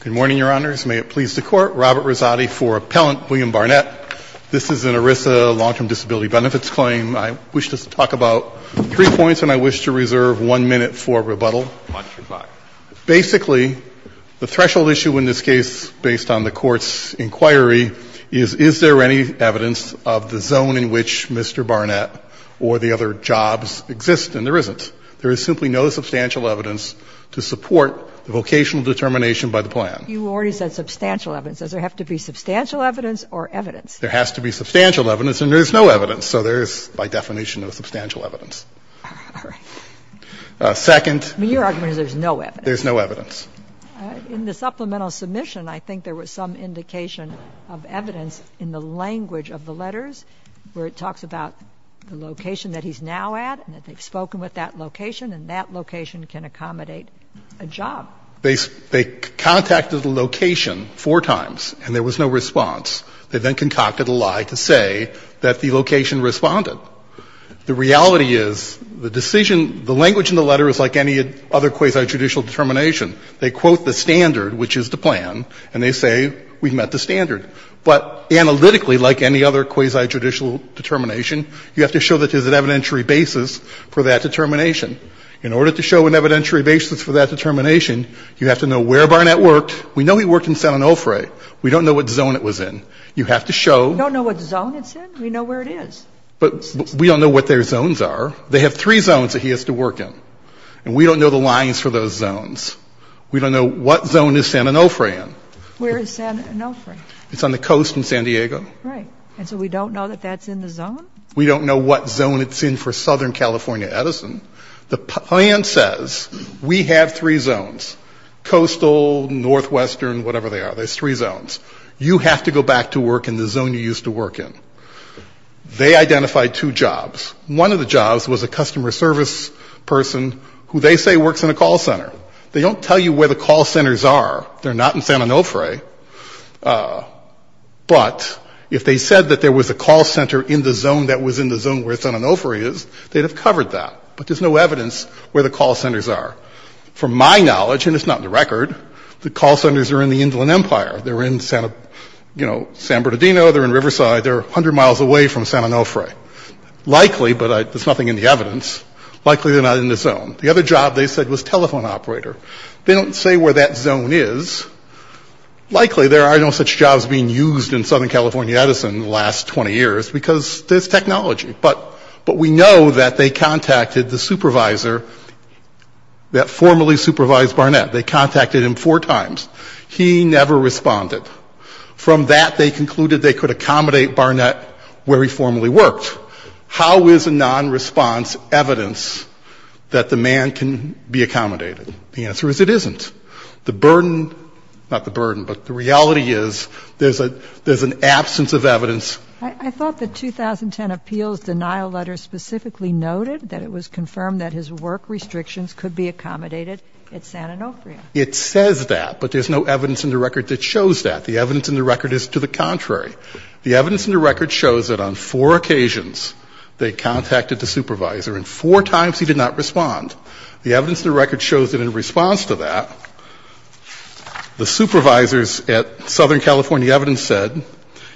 Good morning, Your Honors. May it please the Court, Robert Rizzotti for Appellant William Barnett. This is an ERISA long-term disability benefits claim. I wish to talk about three points and I wish to reserve one minute for rebuttal. Basically, the threshold issue in this case based on the Court's inquiry is, is there any evidence of the zone in which Mr. Barnett or the other jobs exist? And there isn't. There is simply no substantial evidence to support the vocational determination by the plan. You already said substantial evidence. Does there have to be substantial evidence or evidence? There has to be substantial evidence and there is no evidence. So there is, by definition, no substantial evidence. All right. Second I mean, your argument is there's no evidence. There's no evidence. In the supplemental submission, I think there was some indication of evidence in the language of the letters where it talks about the location that he's now at and they've spoken with that location and that location can accommodate a job. They contacted the location four times and there was no response. They then concocted a lie to say that the location responded. The reality is the decision, the language in the letter is like any other quasi-judicial determination. They quote the standard, which is the plan, and they say we've met the standard. But analytically, like any other quasi-judicial determination, you have to show that it is an evidentiary basis for that determination. In order to show an evidentiary basis for that determination, you have to know where Barnett worked. We know he worked in San Onofre. We don't know what zone it was in. You have to show We don't know what zone it's in. We know where it is. But we don't know what their zones are. They have three zones that he has to work in. And we don't know the lines for those zones. We don't know what zone is San Onofre in. Where is San Onofre? It's on the coast in San Diego. Right. And so we don't know that that's in the zone? We don't know what zone it's in for Southern California Edison. The plan says we have three zones, coastal, northwestern, whatever they are. There's three zones. You have to go back to work in the zone you used to work in. They identified two jobs. One of the jobs was a customer service person who they say works in a call center. They don't tell you where the call centers are. They're not in San Onofre. But if they said that there was a call center in the zone that was in the zone where San Onofre is, they'd have covered that. But there's no evidence where the call centers are. From my knowledge, and it's not in the record, the call centers are in the Inland Empire. They're in San Bernardino. They're in Riverside. They're 100 miles away from San Onofre. Likely, but there's nothing in the evidence, likely they're not in the zone. The other job they said was telephone operator. They don't say where that zone is. Likely, there are no such jobs being used in Southern California Edison in the last 20 years because there's technology. But we know that they contacted the supervisor that formerly supervised Barnett. They contacted him four times. He never responded. From that, they concluded they could accommodate Barnett where he formerly worked. How is a non-response evidence that the man can be accommodated? The answer is it isn't. The burden, not the burden, but the reality is there's an absence of evidence. I thought the 2010 appeals denial letter specifically noted that it was confirmed that his work restrictions could be accommodated at San Onofre. It says that, but there's no evidence in the record that shows that. The evidence in the record is to the contrary. The evidence in the record shows that on four occasions they contacted the supervisor and four times he did not respond. The evidence in the record shows that in response to that, the supervisors at Southern California Evidence said,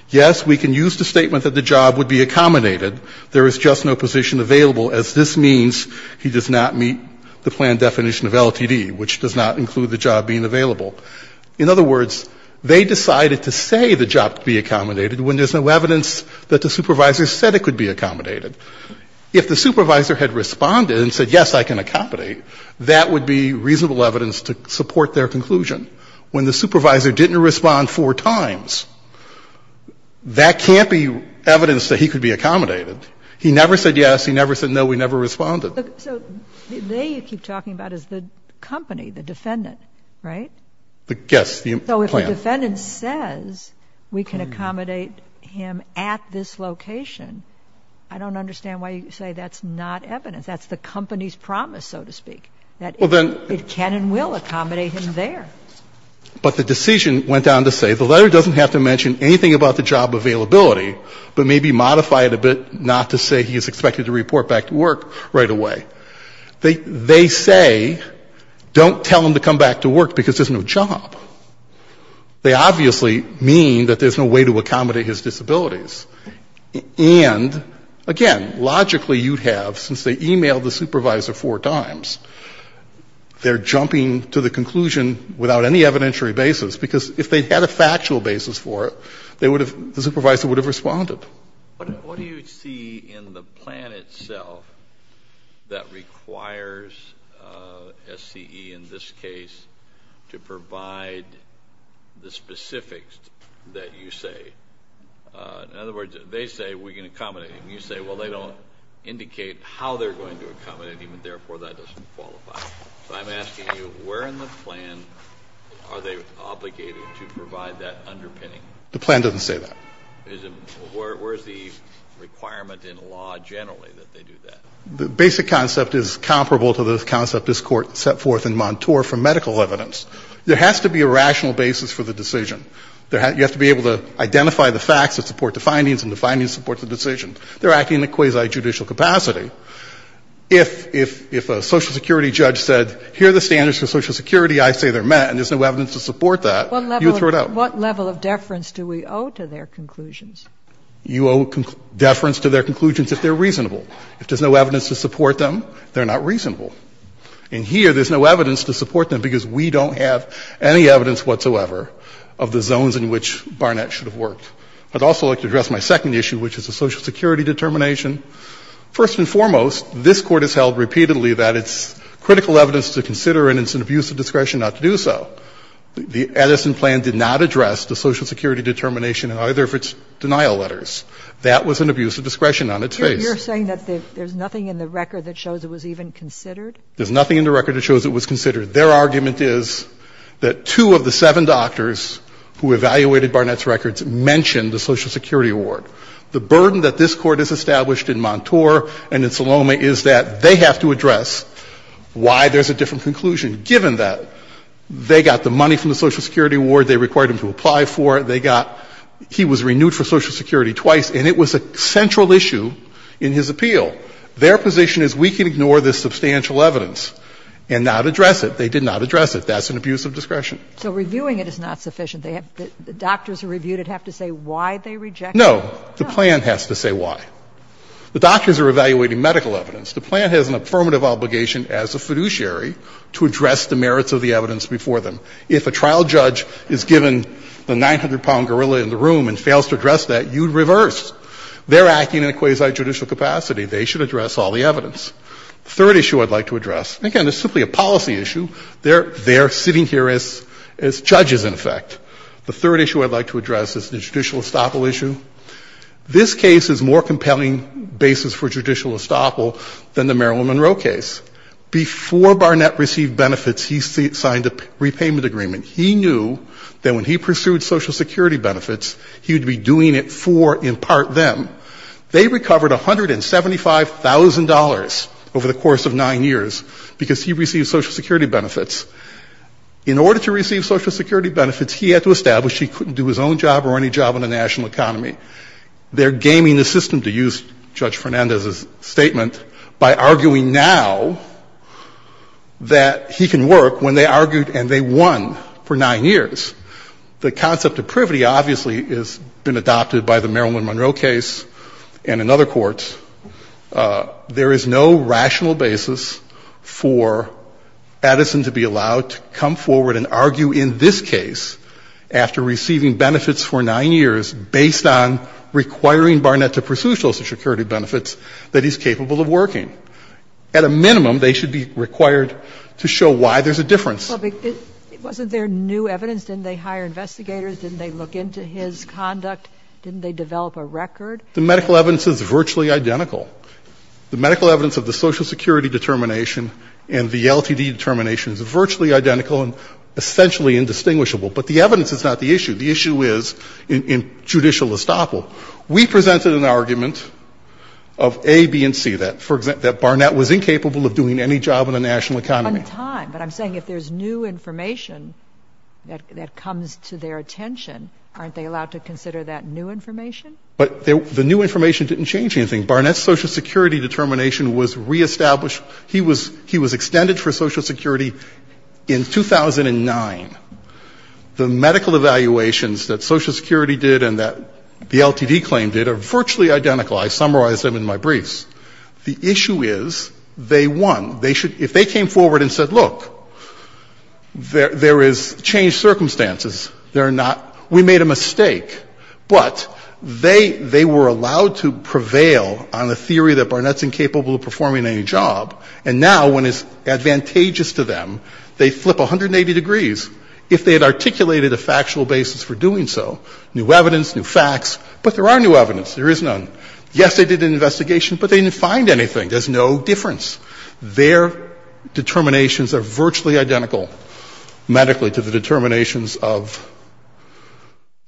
yes, we can use the statement that the job would be accommodated. There is just no position available as this means he does not meet the plan definition of LTD, which does not include the job being available. In other words, they decided to say the job could be accommodated when there's no evidence that the supervisor said it could be accommodated. If the supervisor had responded and said, yes, I can accommodate, that would be reasonable evidence to support their conclusion. When the supervisor didn't respond four times, that can't be evidence that he could be accommodated. He never said yes, he never said no, we never responded. So they keep talking about is the company, the defendant, right? Yes, the plan. So if the defendant says we can accommodate him at this location, I don't understand why you say that's not evidence, that's the company's promise, so to speak. That it can and will accommodate him there. But the decision went on to say the letter doesn't have to mention anything about the job availability, but maybe modify it a bit not to say he is expected to report back to work right away. They say, don't tell him to come back to work because there's no job. They obviously mean that there's no way to accommodate his disabilities. And again, logically you'd have, since they emailed the supervisor four times, they're jumping to the conclusion without any evidentiary basis. Because if they had a factual basis for it, they would have, the supervisor would have responded. What do you see in the plan itself that requires SCE in this case to provide the specifics that you say? In other words, they say we can accommodate him, you say well, they don't indicate how they're going to accommodate him and therefore that doesn't qualify. So I'm asking you, where in the plan are they obligated to provide that underpinning? The plan doesn't say that. Is it, where is the requirement in law generally that they do that? The basic concept is comparable to the concept this court set forth in Montour for medical evidence. There has to be a rational basis for the decision. You have to be able to identify the facts that support the findings and the findings support the decision. They're acting in a quasi-judicial capacity. If a Social Security judge said, here are the standards for Social Security, I say they're met and there's no evidence to support that, you would throw it out. What level of deference do we owe to their conclusions? You owe deference to their conclusions if they're reasonable. If there's no evidence to support them, they're not reasonable. And here, there's no evidence to support them because we don't have any evidence whatsoever of the zones in which Barnett should have worked. I'd also like to address my second issue, which is the Social Security determination. First and foremost, this Court has held repeatedly that it's critical evidence to consider and it's an abuse of discretion not to do so. The Edison plan did not address the Social Security determination in either of its denial letters. That was an abuse of discretion on its face. Sotomayor, you're saying that there's nothing in the record that shows it was even considered? There's nothing in the record that shows it was considered. Their argument is that two of the seven doctors who evaluated Barnett's records mentioned the Social Security award. The burden that this Court has established in Montour and in Salome is that they have to address why there's a different conclusion, given that they got the money from the Social Security award, they required him to apply for it, they got he was renewed for Social Security twice, and it was a central issue in his appeal. Their position is we can ignore this substantial evidence and not address it. They did not address it. That's an abuse of discretion. So reviewing it is not sufficient. Doctors who reviewed it have to say why they rejected it? No, the plan has to say why. The doctors are evaluating medical evidence. The plan has an affirmative obligation as a fiduciary to address the merits of the evidence before them. If a trial judge is given the 900-pound gorilla in the room and fails to address that, you reverse. They're acting in a quasi-judicial capacity. They should address all the evidence. The third issue I'd like to address, again, it's simply a policy issue, they're sitting here as judges, in effect. The third issue I'd like to address is the judicial estoppel issue. This case is more compelling basis for judicial estoppel than the Marilyn Monroe case. Before Barnett received benefits, he signed a repayment agreement. He knew that when he pursued Social Security benefits, he would be doing it for, in part, them. They recovered $175,000 over the course of nine years because he received Social Security benefits. In order to receive Social Security benefits, he had to establish he couldn't do his own job or any job in the national economy. They're gaming the system, to use Judge Fernandez's statement, by arguing now that he can work when they argued and they won for nine years. The concept of privity obviously has been adopted by the Marilyn Monroe case and in other courts. There is no rational basis for Edison to be allowed to come forward and argue in this case, after receiving benefits for nine years, based on requiring Barnett to pursue Social Security benefits, that he's capable of working. At a minimum, they should be required to show why there's a difference. But wasn't there new evidence? Didn't they hire investigators? Didn't they look into his conduct? Didn't they develop a record? The medical evidence is virtually identical. The medical evidence of the Social Security determination and the LTD determination is virtually identical and essentially indistinguishable. But the evidence is not the issue. The issue is in judicial estoppel. We presented an argument of A, B, and C, that, for example, that Barnett was incapable of doing any job in the national economy. On time, but I'm saying if there's new information that comes to their attention, aren't they allowed to consider that new information? But the new information didn't change anything. Barnett's Social Security determination was re-established. He was extended for Social Security in 2009. The medical evaluations that Social Security did and that the LTD claim did are virtually identical. I summarized them in my briefs. The issue is, they won. If they came forward and said, look, there is changed circumstances. They're not, we made a mistake. But they were allowed to prevail on the theory that Barnett's incapable of performing any job. And now, when it's advantageous to them, they flip 180 degrees if they had articulated a factual basis for doing so. New evidence, new facts, but there are new evidence. There is none. Yes, they did an investigation, but they didn't find anything. There's no difference. Their determinations are virtually identical medically to the determinations of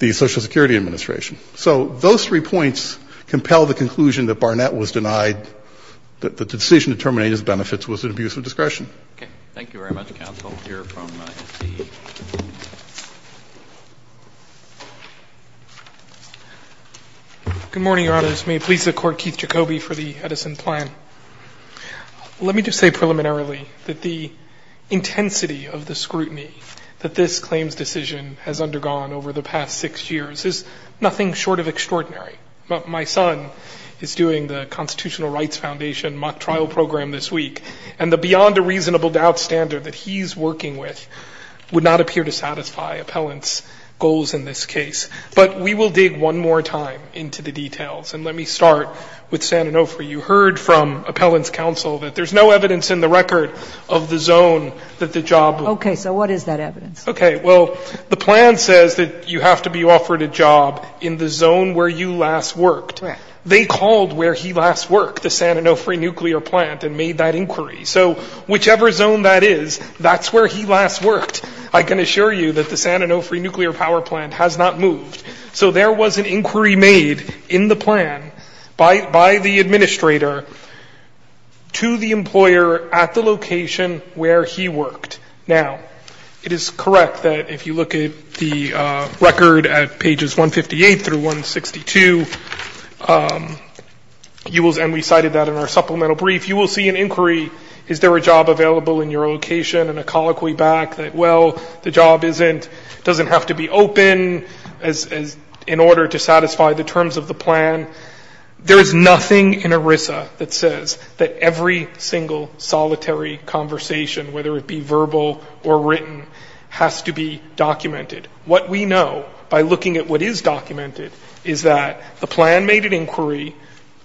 the Social Security Administration. So those three points compel the conclusion that Barnett was denied, that the decision to terminate his benefits was an abuse of discretion. Okay. Thank you very much, counsel. We'll hear from the LTD. Good morning, Your Honors. May it please the Court, Keith Jacoby for the Edison plan. Let me just say preliminarily that the intensity of the scrutiny that this claims decision has undergone over the past six years is nothing short of extraordinary. My son is doing the Constitutional Rights Foundation mock trial program this week, and the beyond a reasonable doubt standard that he's working with would not appear to satisfy appellant's goals in this case. But we will dig one more time into the details. And let me start with San Onofre. You heard from appellant's counsel that there's no evidence in the record of the zone that the job. Okay. So what is that evidence? Okay. Well, the plan says that you have to be offered a job in the zone where you last worked. They called where he last worked, the San Onofre nuclear plant, and made that inquiry. So whichever zone that is, that's where he last worked. I can assure you that the San Onofre nuclear power plant has not moved. So there was an inquiry made in the plan by the administrator to the employer at the location where he worked. Now, it is correct that if you look at the record at pages 158 through 162, and we cited that in our supplemental brief, you will see an inquiry, is there a job available in your location? And a colloquy back that, well, the job doesn't have to be open in order to satisfy the terms of the plan. There is nothing in ERISA that says that every single solitary conversation, whether it be verbal or written, has to be documented. What we know by looking at what is documented is that the plan made an inquiry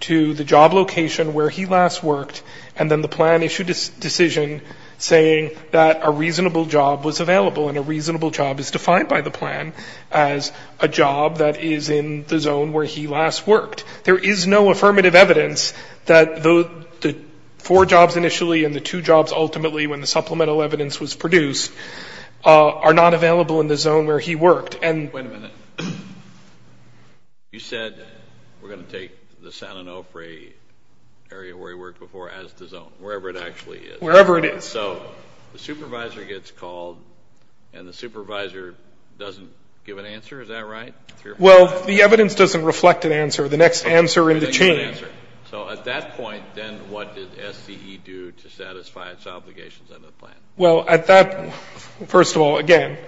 to the job location where he last worked, and then the plan issued a decision saying that a reasonable job was available, and a reasonable job is defined by the plan as a job that is in the zone where he last worked. There is no affirmative evidence that the four jobs initially and the two jobs ultimately when the supplemental evidence was produced are not available in the zone where he worked. Wait a minute. You said we're going to take the San Onofre area where he worked before as the zone, wherever it actually is. Wherever it is. So, the supervisor gets called, and the supervisor doesn't give an answer, is that right? Well, the evidence doesn't reflect an answer. The next answer in the chain. So, at that point, then what did SCE do to satisfy its obligations under the plan? Well, at that, first of all, again,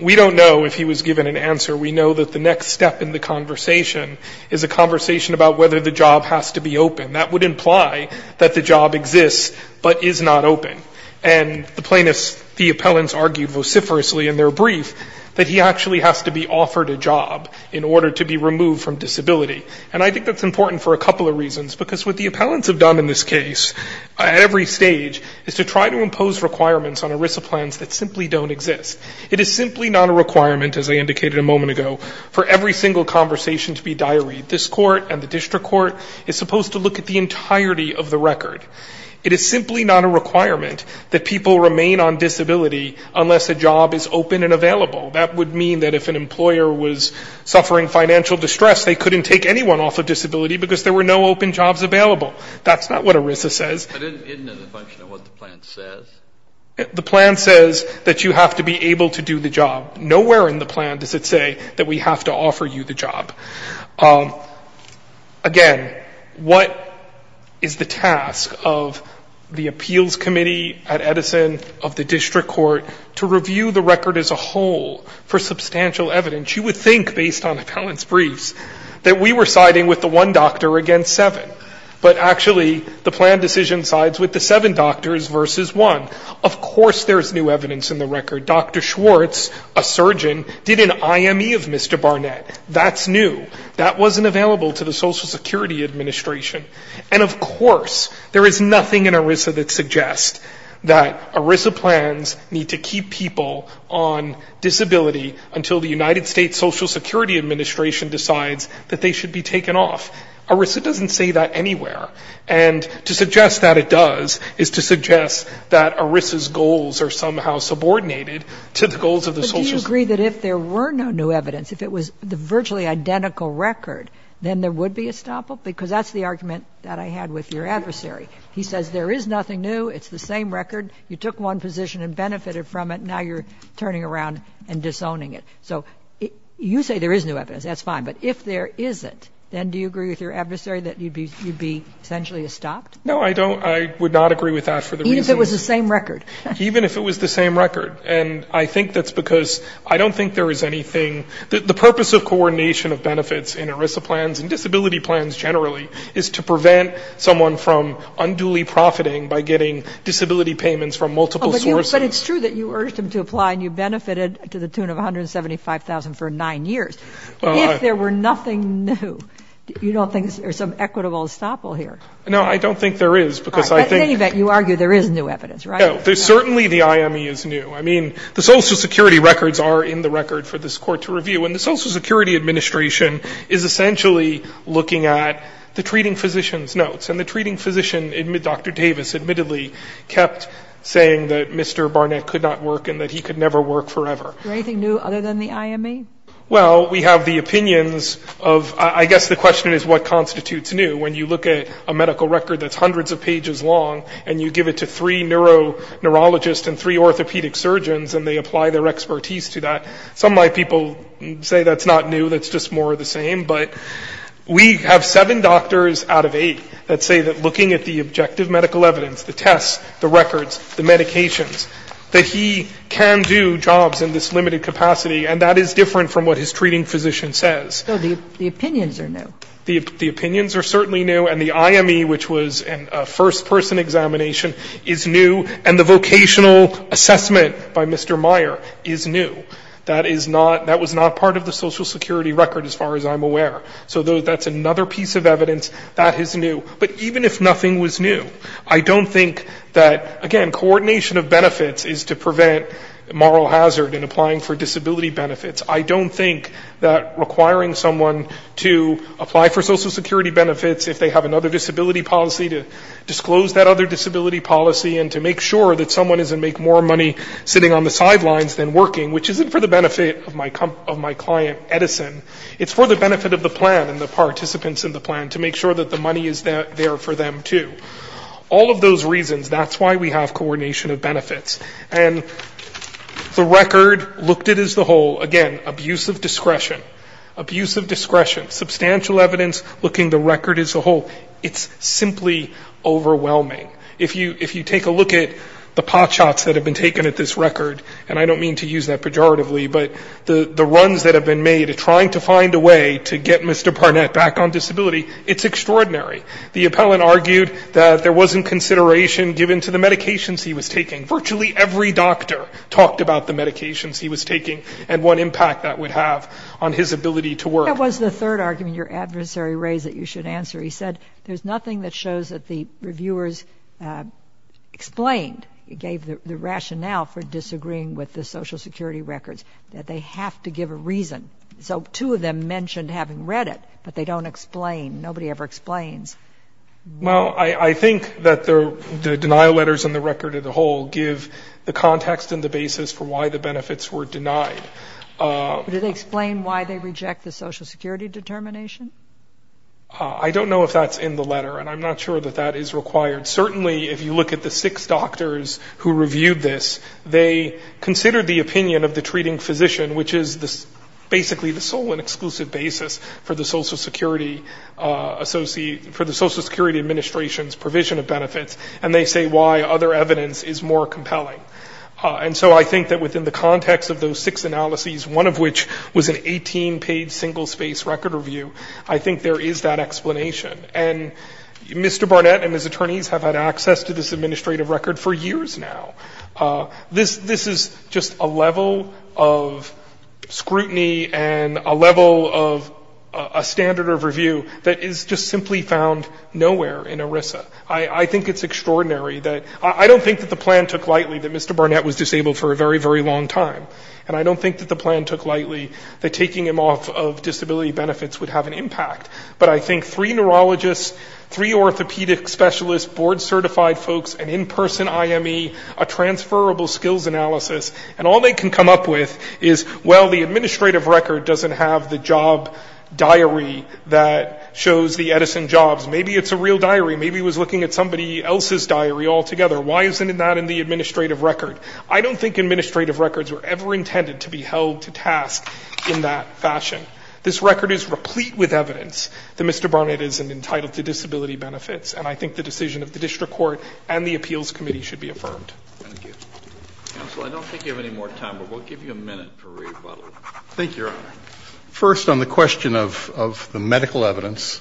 we don't know if he was given an answer. We know that the next step in the conversation is a conversation about whether the job has to be open. That would imply that the job exists, but is not open. And the plaintiffs, the appellants argued vociferously in their brief that he actually has to be offered a job in order to be removed from disability. And I think that's important for a couple of reasons, because what the appellants have done in this case at every stage is to try to impose requirements on ERISA plans that simply don't exist. It is simply not a requirement, as I indicated a moment ago, for every single conversation to be diaried. This court and the district court is supposed to look at the entirety of the record. It is simply not a requirement that people remain on disability unless a job is open and available. That would mean that if an employer was suffering financial distress, they couldn't take anyone off of disability because there were no open jobs available. No, that's not what ERISA says. I didn't get into the function of what the plan says. The plan says that you have to be able to do the job. Nowhere in the plan does it say that we have to offer you the job. Again, what is the task of the appeals committee at Edison, of the district court, to review the record as a whole for substantial evidence? You would think, based on appellant's briefs, that we were siding with the one doctor against seven. But actually, the plan decision sides with the seven doctors versus one. Of course there's new evidence in the record. Dr. Schwartz, a surgeon, did an IME of Mr. Barnett. That's new. That wasn't available to the Social Security Administration. And of course, there is nothing in ERISA that suggests that ERISA plans need to keep people on disability until the United States Social Security Administration decides that they should be taken off. ERISA doesn't say that anywhere. And to suggest that it does is to suggest that ERISA's goals are somehow subordinated to the goals of the Social Security Administration. But do you agree that if there were no new evidence, if it was the virtually identical record, then there would be a stop-up? Because that's the argument that I had with your adversary. He says there is nothing new. It's the same record. You took one position and benefited from it. Now you're turning around and disowning it. So you say there is new evidence. That's fine. But if there isn't, then do you agree with your adversary that you'd be essentially stopped? No, I don't. I would not agree with that for the reasons. Even if it was the same record. Even if it was the same record. And I think that's because I don't think there is anything. The purpose of coordination of benefits in ERISA plans and disability plans generally is to prevent someone from unduly profiting by getting disability payments from multiple sources. But it's true that you urged him to apply and you benefited to the tune of $175,000 for nine years. If there were nothing new, you don't think there's some equitable estoppel here? No, I don't think there is, because I think that you argue there is new evidence, right? No. There's certainly the IME is new. I mean, the Social Security records are in the record for this Court to review. And the Social Security Administration is essentially looking at the treating physician's notes. And the treating physician, Dr. Davis, admittedly kept saying that Mr. Barnett could not work and that he could never work forever. Is there anything new other than the IME? Well, we have the opinions of, I guess the question is what constitutes new? When you look at a medical record that's hundreds of pages long and you give it to three neuro neurologists and three orthopedic surgeons and they apply their expertise to that. Some might people say that's not new, that's just more of the same. But we have seven doctors out of eight that say that looking at the objective medical evidence, the tests, the records, the medications, that he can do jobs in this limited capacity. And that is different from what his treating physician says. So the opinions are new? The opinions are certainly new. And the IME, which was a first person examination, is new. And the vocational assessment by Mr. Meyer is new. That is not, that was not part of the Social Security record as far as I'm aware. So that's another piece of evidence that is new. But even if nothing was new, I don't think that, again, coordination of benefits is to prevent moral hazard in applying for disability benefits. I don't think that requiring someone to apply for Social Security benefits if they have another disability policy to disclose that other disability policy and to make sure that someone doesn't make more money sitting on the sidelines than working, which isn't for the benefit of my client Edison, it's for the benefit of the plan and the participants in the plan to make sure that the money is there for them too. All of those reasons, that's why we have coordination of benefits. And the record looked at as the whole, again, abuse of discretion. Abuse of discretion. Substantial evidence looking the record as a whole. It's simply overwhelming. If you take a look at the pot shots that have been taken at this record, and I don't mean to use that pejoratively, but the runs that have been made trying to find a way to get Mr. Barnett back on disability, it's extraordinary. The appellant argued that there wasn't consideration given to the medications he was taking. Virtually every doctor talked about the medications he was taking and what impact that would have on his ability to work. There was the third argument your adversary raised that you should answer. He said there's nothing that shows that the reviewers explained, gave the rationale for disagreeing with the Social Security records, that they have to give a reason. So two of them mentioned having read it, but they don't explain. Nobody ever explains. Well, I think that the denial letters and the record as a whole give the context and the basis for why the benefits were denied. Did they explain why they reject the Social Security determination? I don't know if that's in the letter, and I'm not sure that that is required. Certainly if you look at the six doctors who reviewed this, they considered the opinion of the treating physician, which is basically the sole and exclusive basis for the Social Security administration's provision of benefits, and they say why other evidence is more compelling. And so I think that within the context of those six analyses, one of which was an 18-page single-space record review, I think there is that explanation. And Mr. Barnett and his attorneys have had access to this administrative record for years now. This is just a level of scrutiny and a level of a standard of review that is just simply found nowhere in ERISA. I think it's extraordinary that—I don't think that the plan took lightly that Mr. Barnett was disabled for a very, very long time, and I don't think that the plan took lightly that taking him off of disability benefits would have an impact. But I think three neurologists, three orthopedic specialists, board-certified folks, an in-person IME, a transferable skills analysis, and all they can come up with is, well, the administrative record doesn't have the job diary that shows the Edison jobs. Maybe it's a real diary. Maybe it was looking at somebody else's diary altogether. Why isn't that in the administrative record? I don't think administrative records were ever intended to be held to task in that fashion. This record is replete with evidence that Mr. Barnett isn't entitled to disability benefits, and I think the decision of the district court and the appeals committee should Roberts. Thank you. Counsel, I don't think you have any more time, but we'll give you a minute for rebuttal. Thank you, Your Honor. First, on the question of the medical evidence,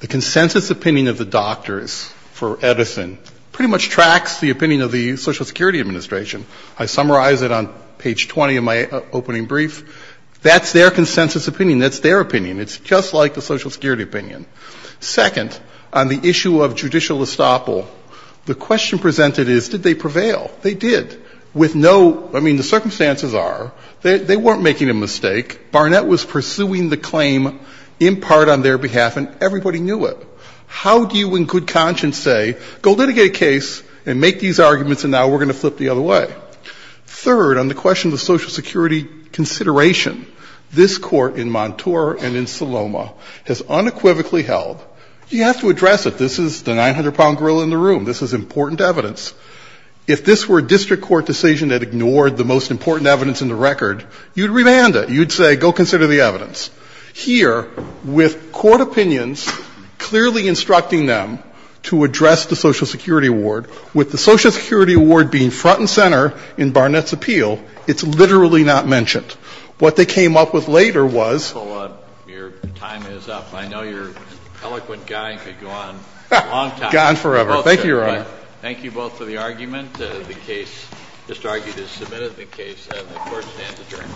the consensus opinion of the doctors for Edison pretty much tracks the opinion of the Social Security Administration. I summarize it on page 20 of my opening brief. That's their consensus opinion. That's their opinion. It's just like the Social Security opinion. Second, on the issue of judicial estoppel, the question presented is, did they prevail? They did. With no, I mean, the circumstances are, they weren't making a mistake. Barnett was pursuing the claim in part on their behalf, and everybody knew it. How do you in good conscience say, go litigate a case and make these arguments, and now we're going to flip the other way? Third, on the question of the Social Security consideration, this court in Montour and in Saloma has unequivocally held, you have to address it. This is the 900-pound grill in the room. This is important evidence. If this were a district court decision that ignored the most important evidence in the record, you'd remand it. You'd say, go consider the evidence. Here, with court opinions clearly instructing them to address the Social Security Award, with the Social Security Award being front and center in Barnett's appeal, it's literally not mentioned. What they came up with later was. Your time is up. I know you're an eloquent guy who could go on a long time. Gone forever. Thank you, Your Honor. Thank you both for the argument. The case, Mr. Argytas submitted the case, and the court stands adjourned.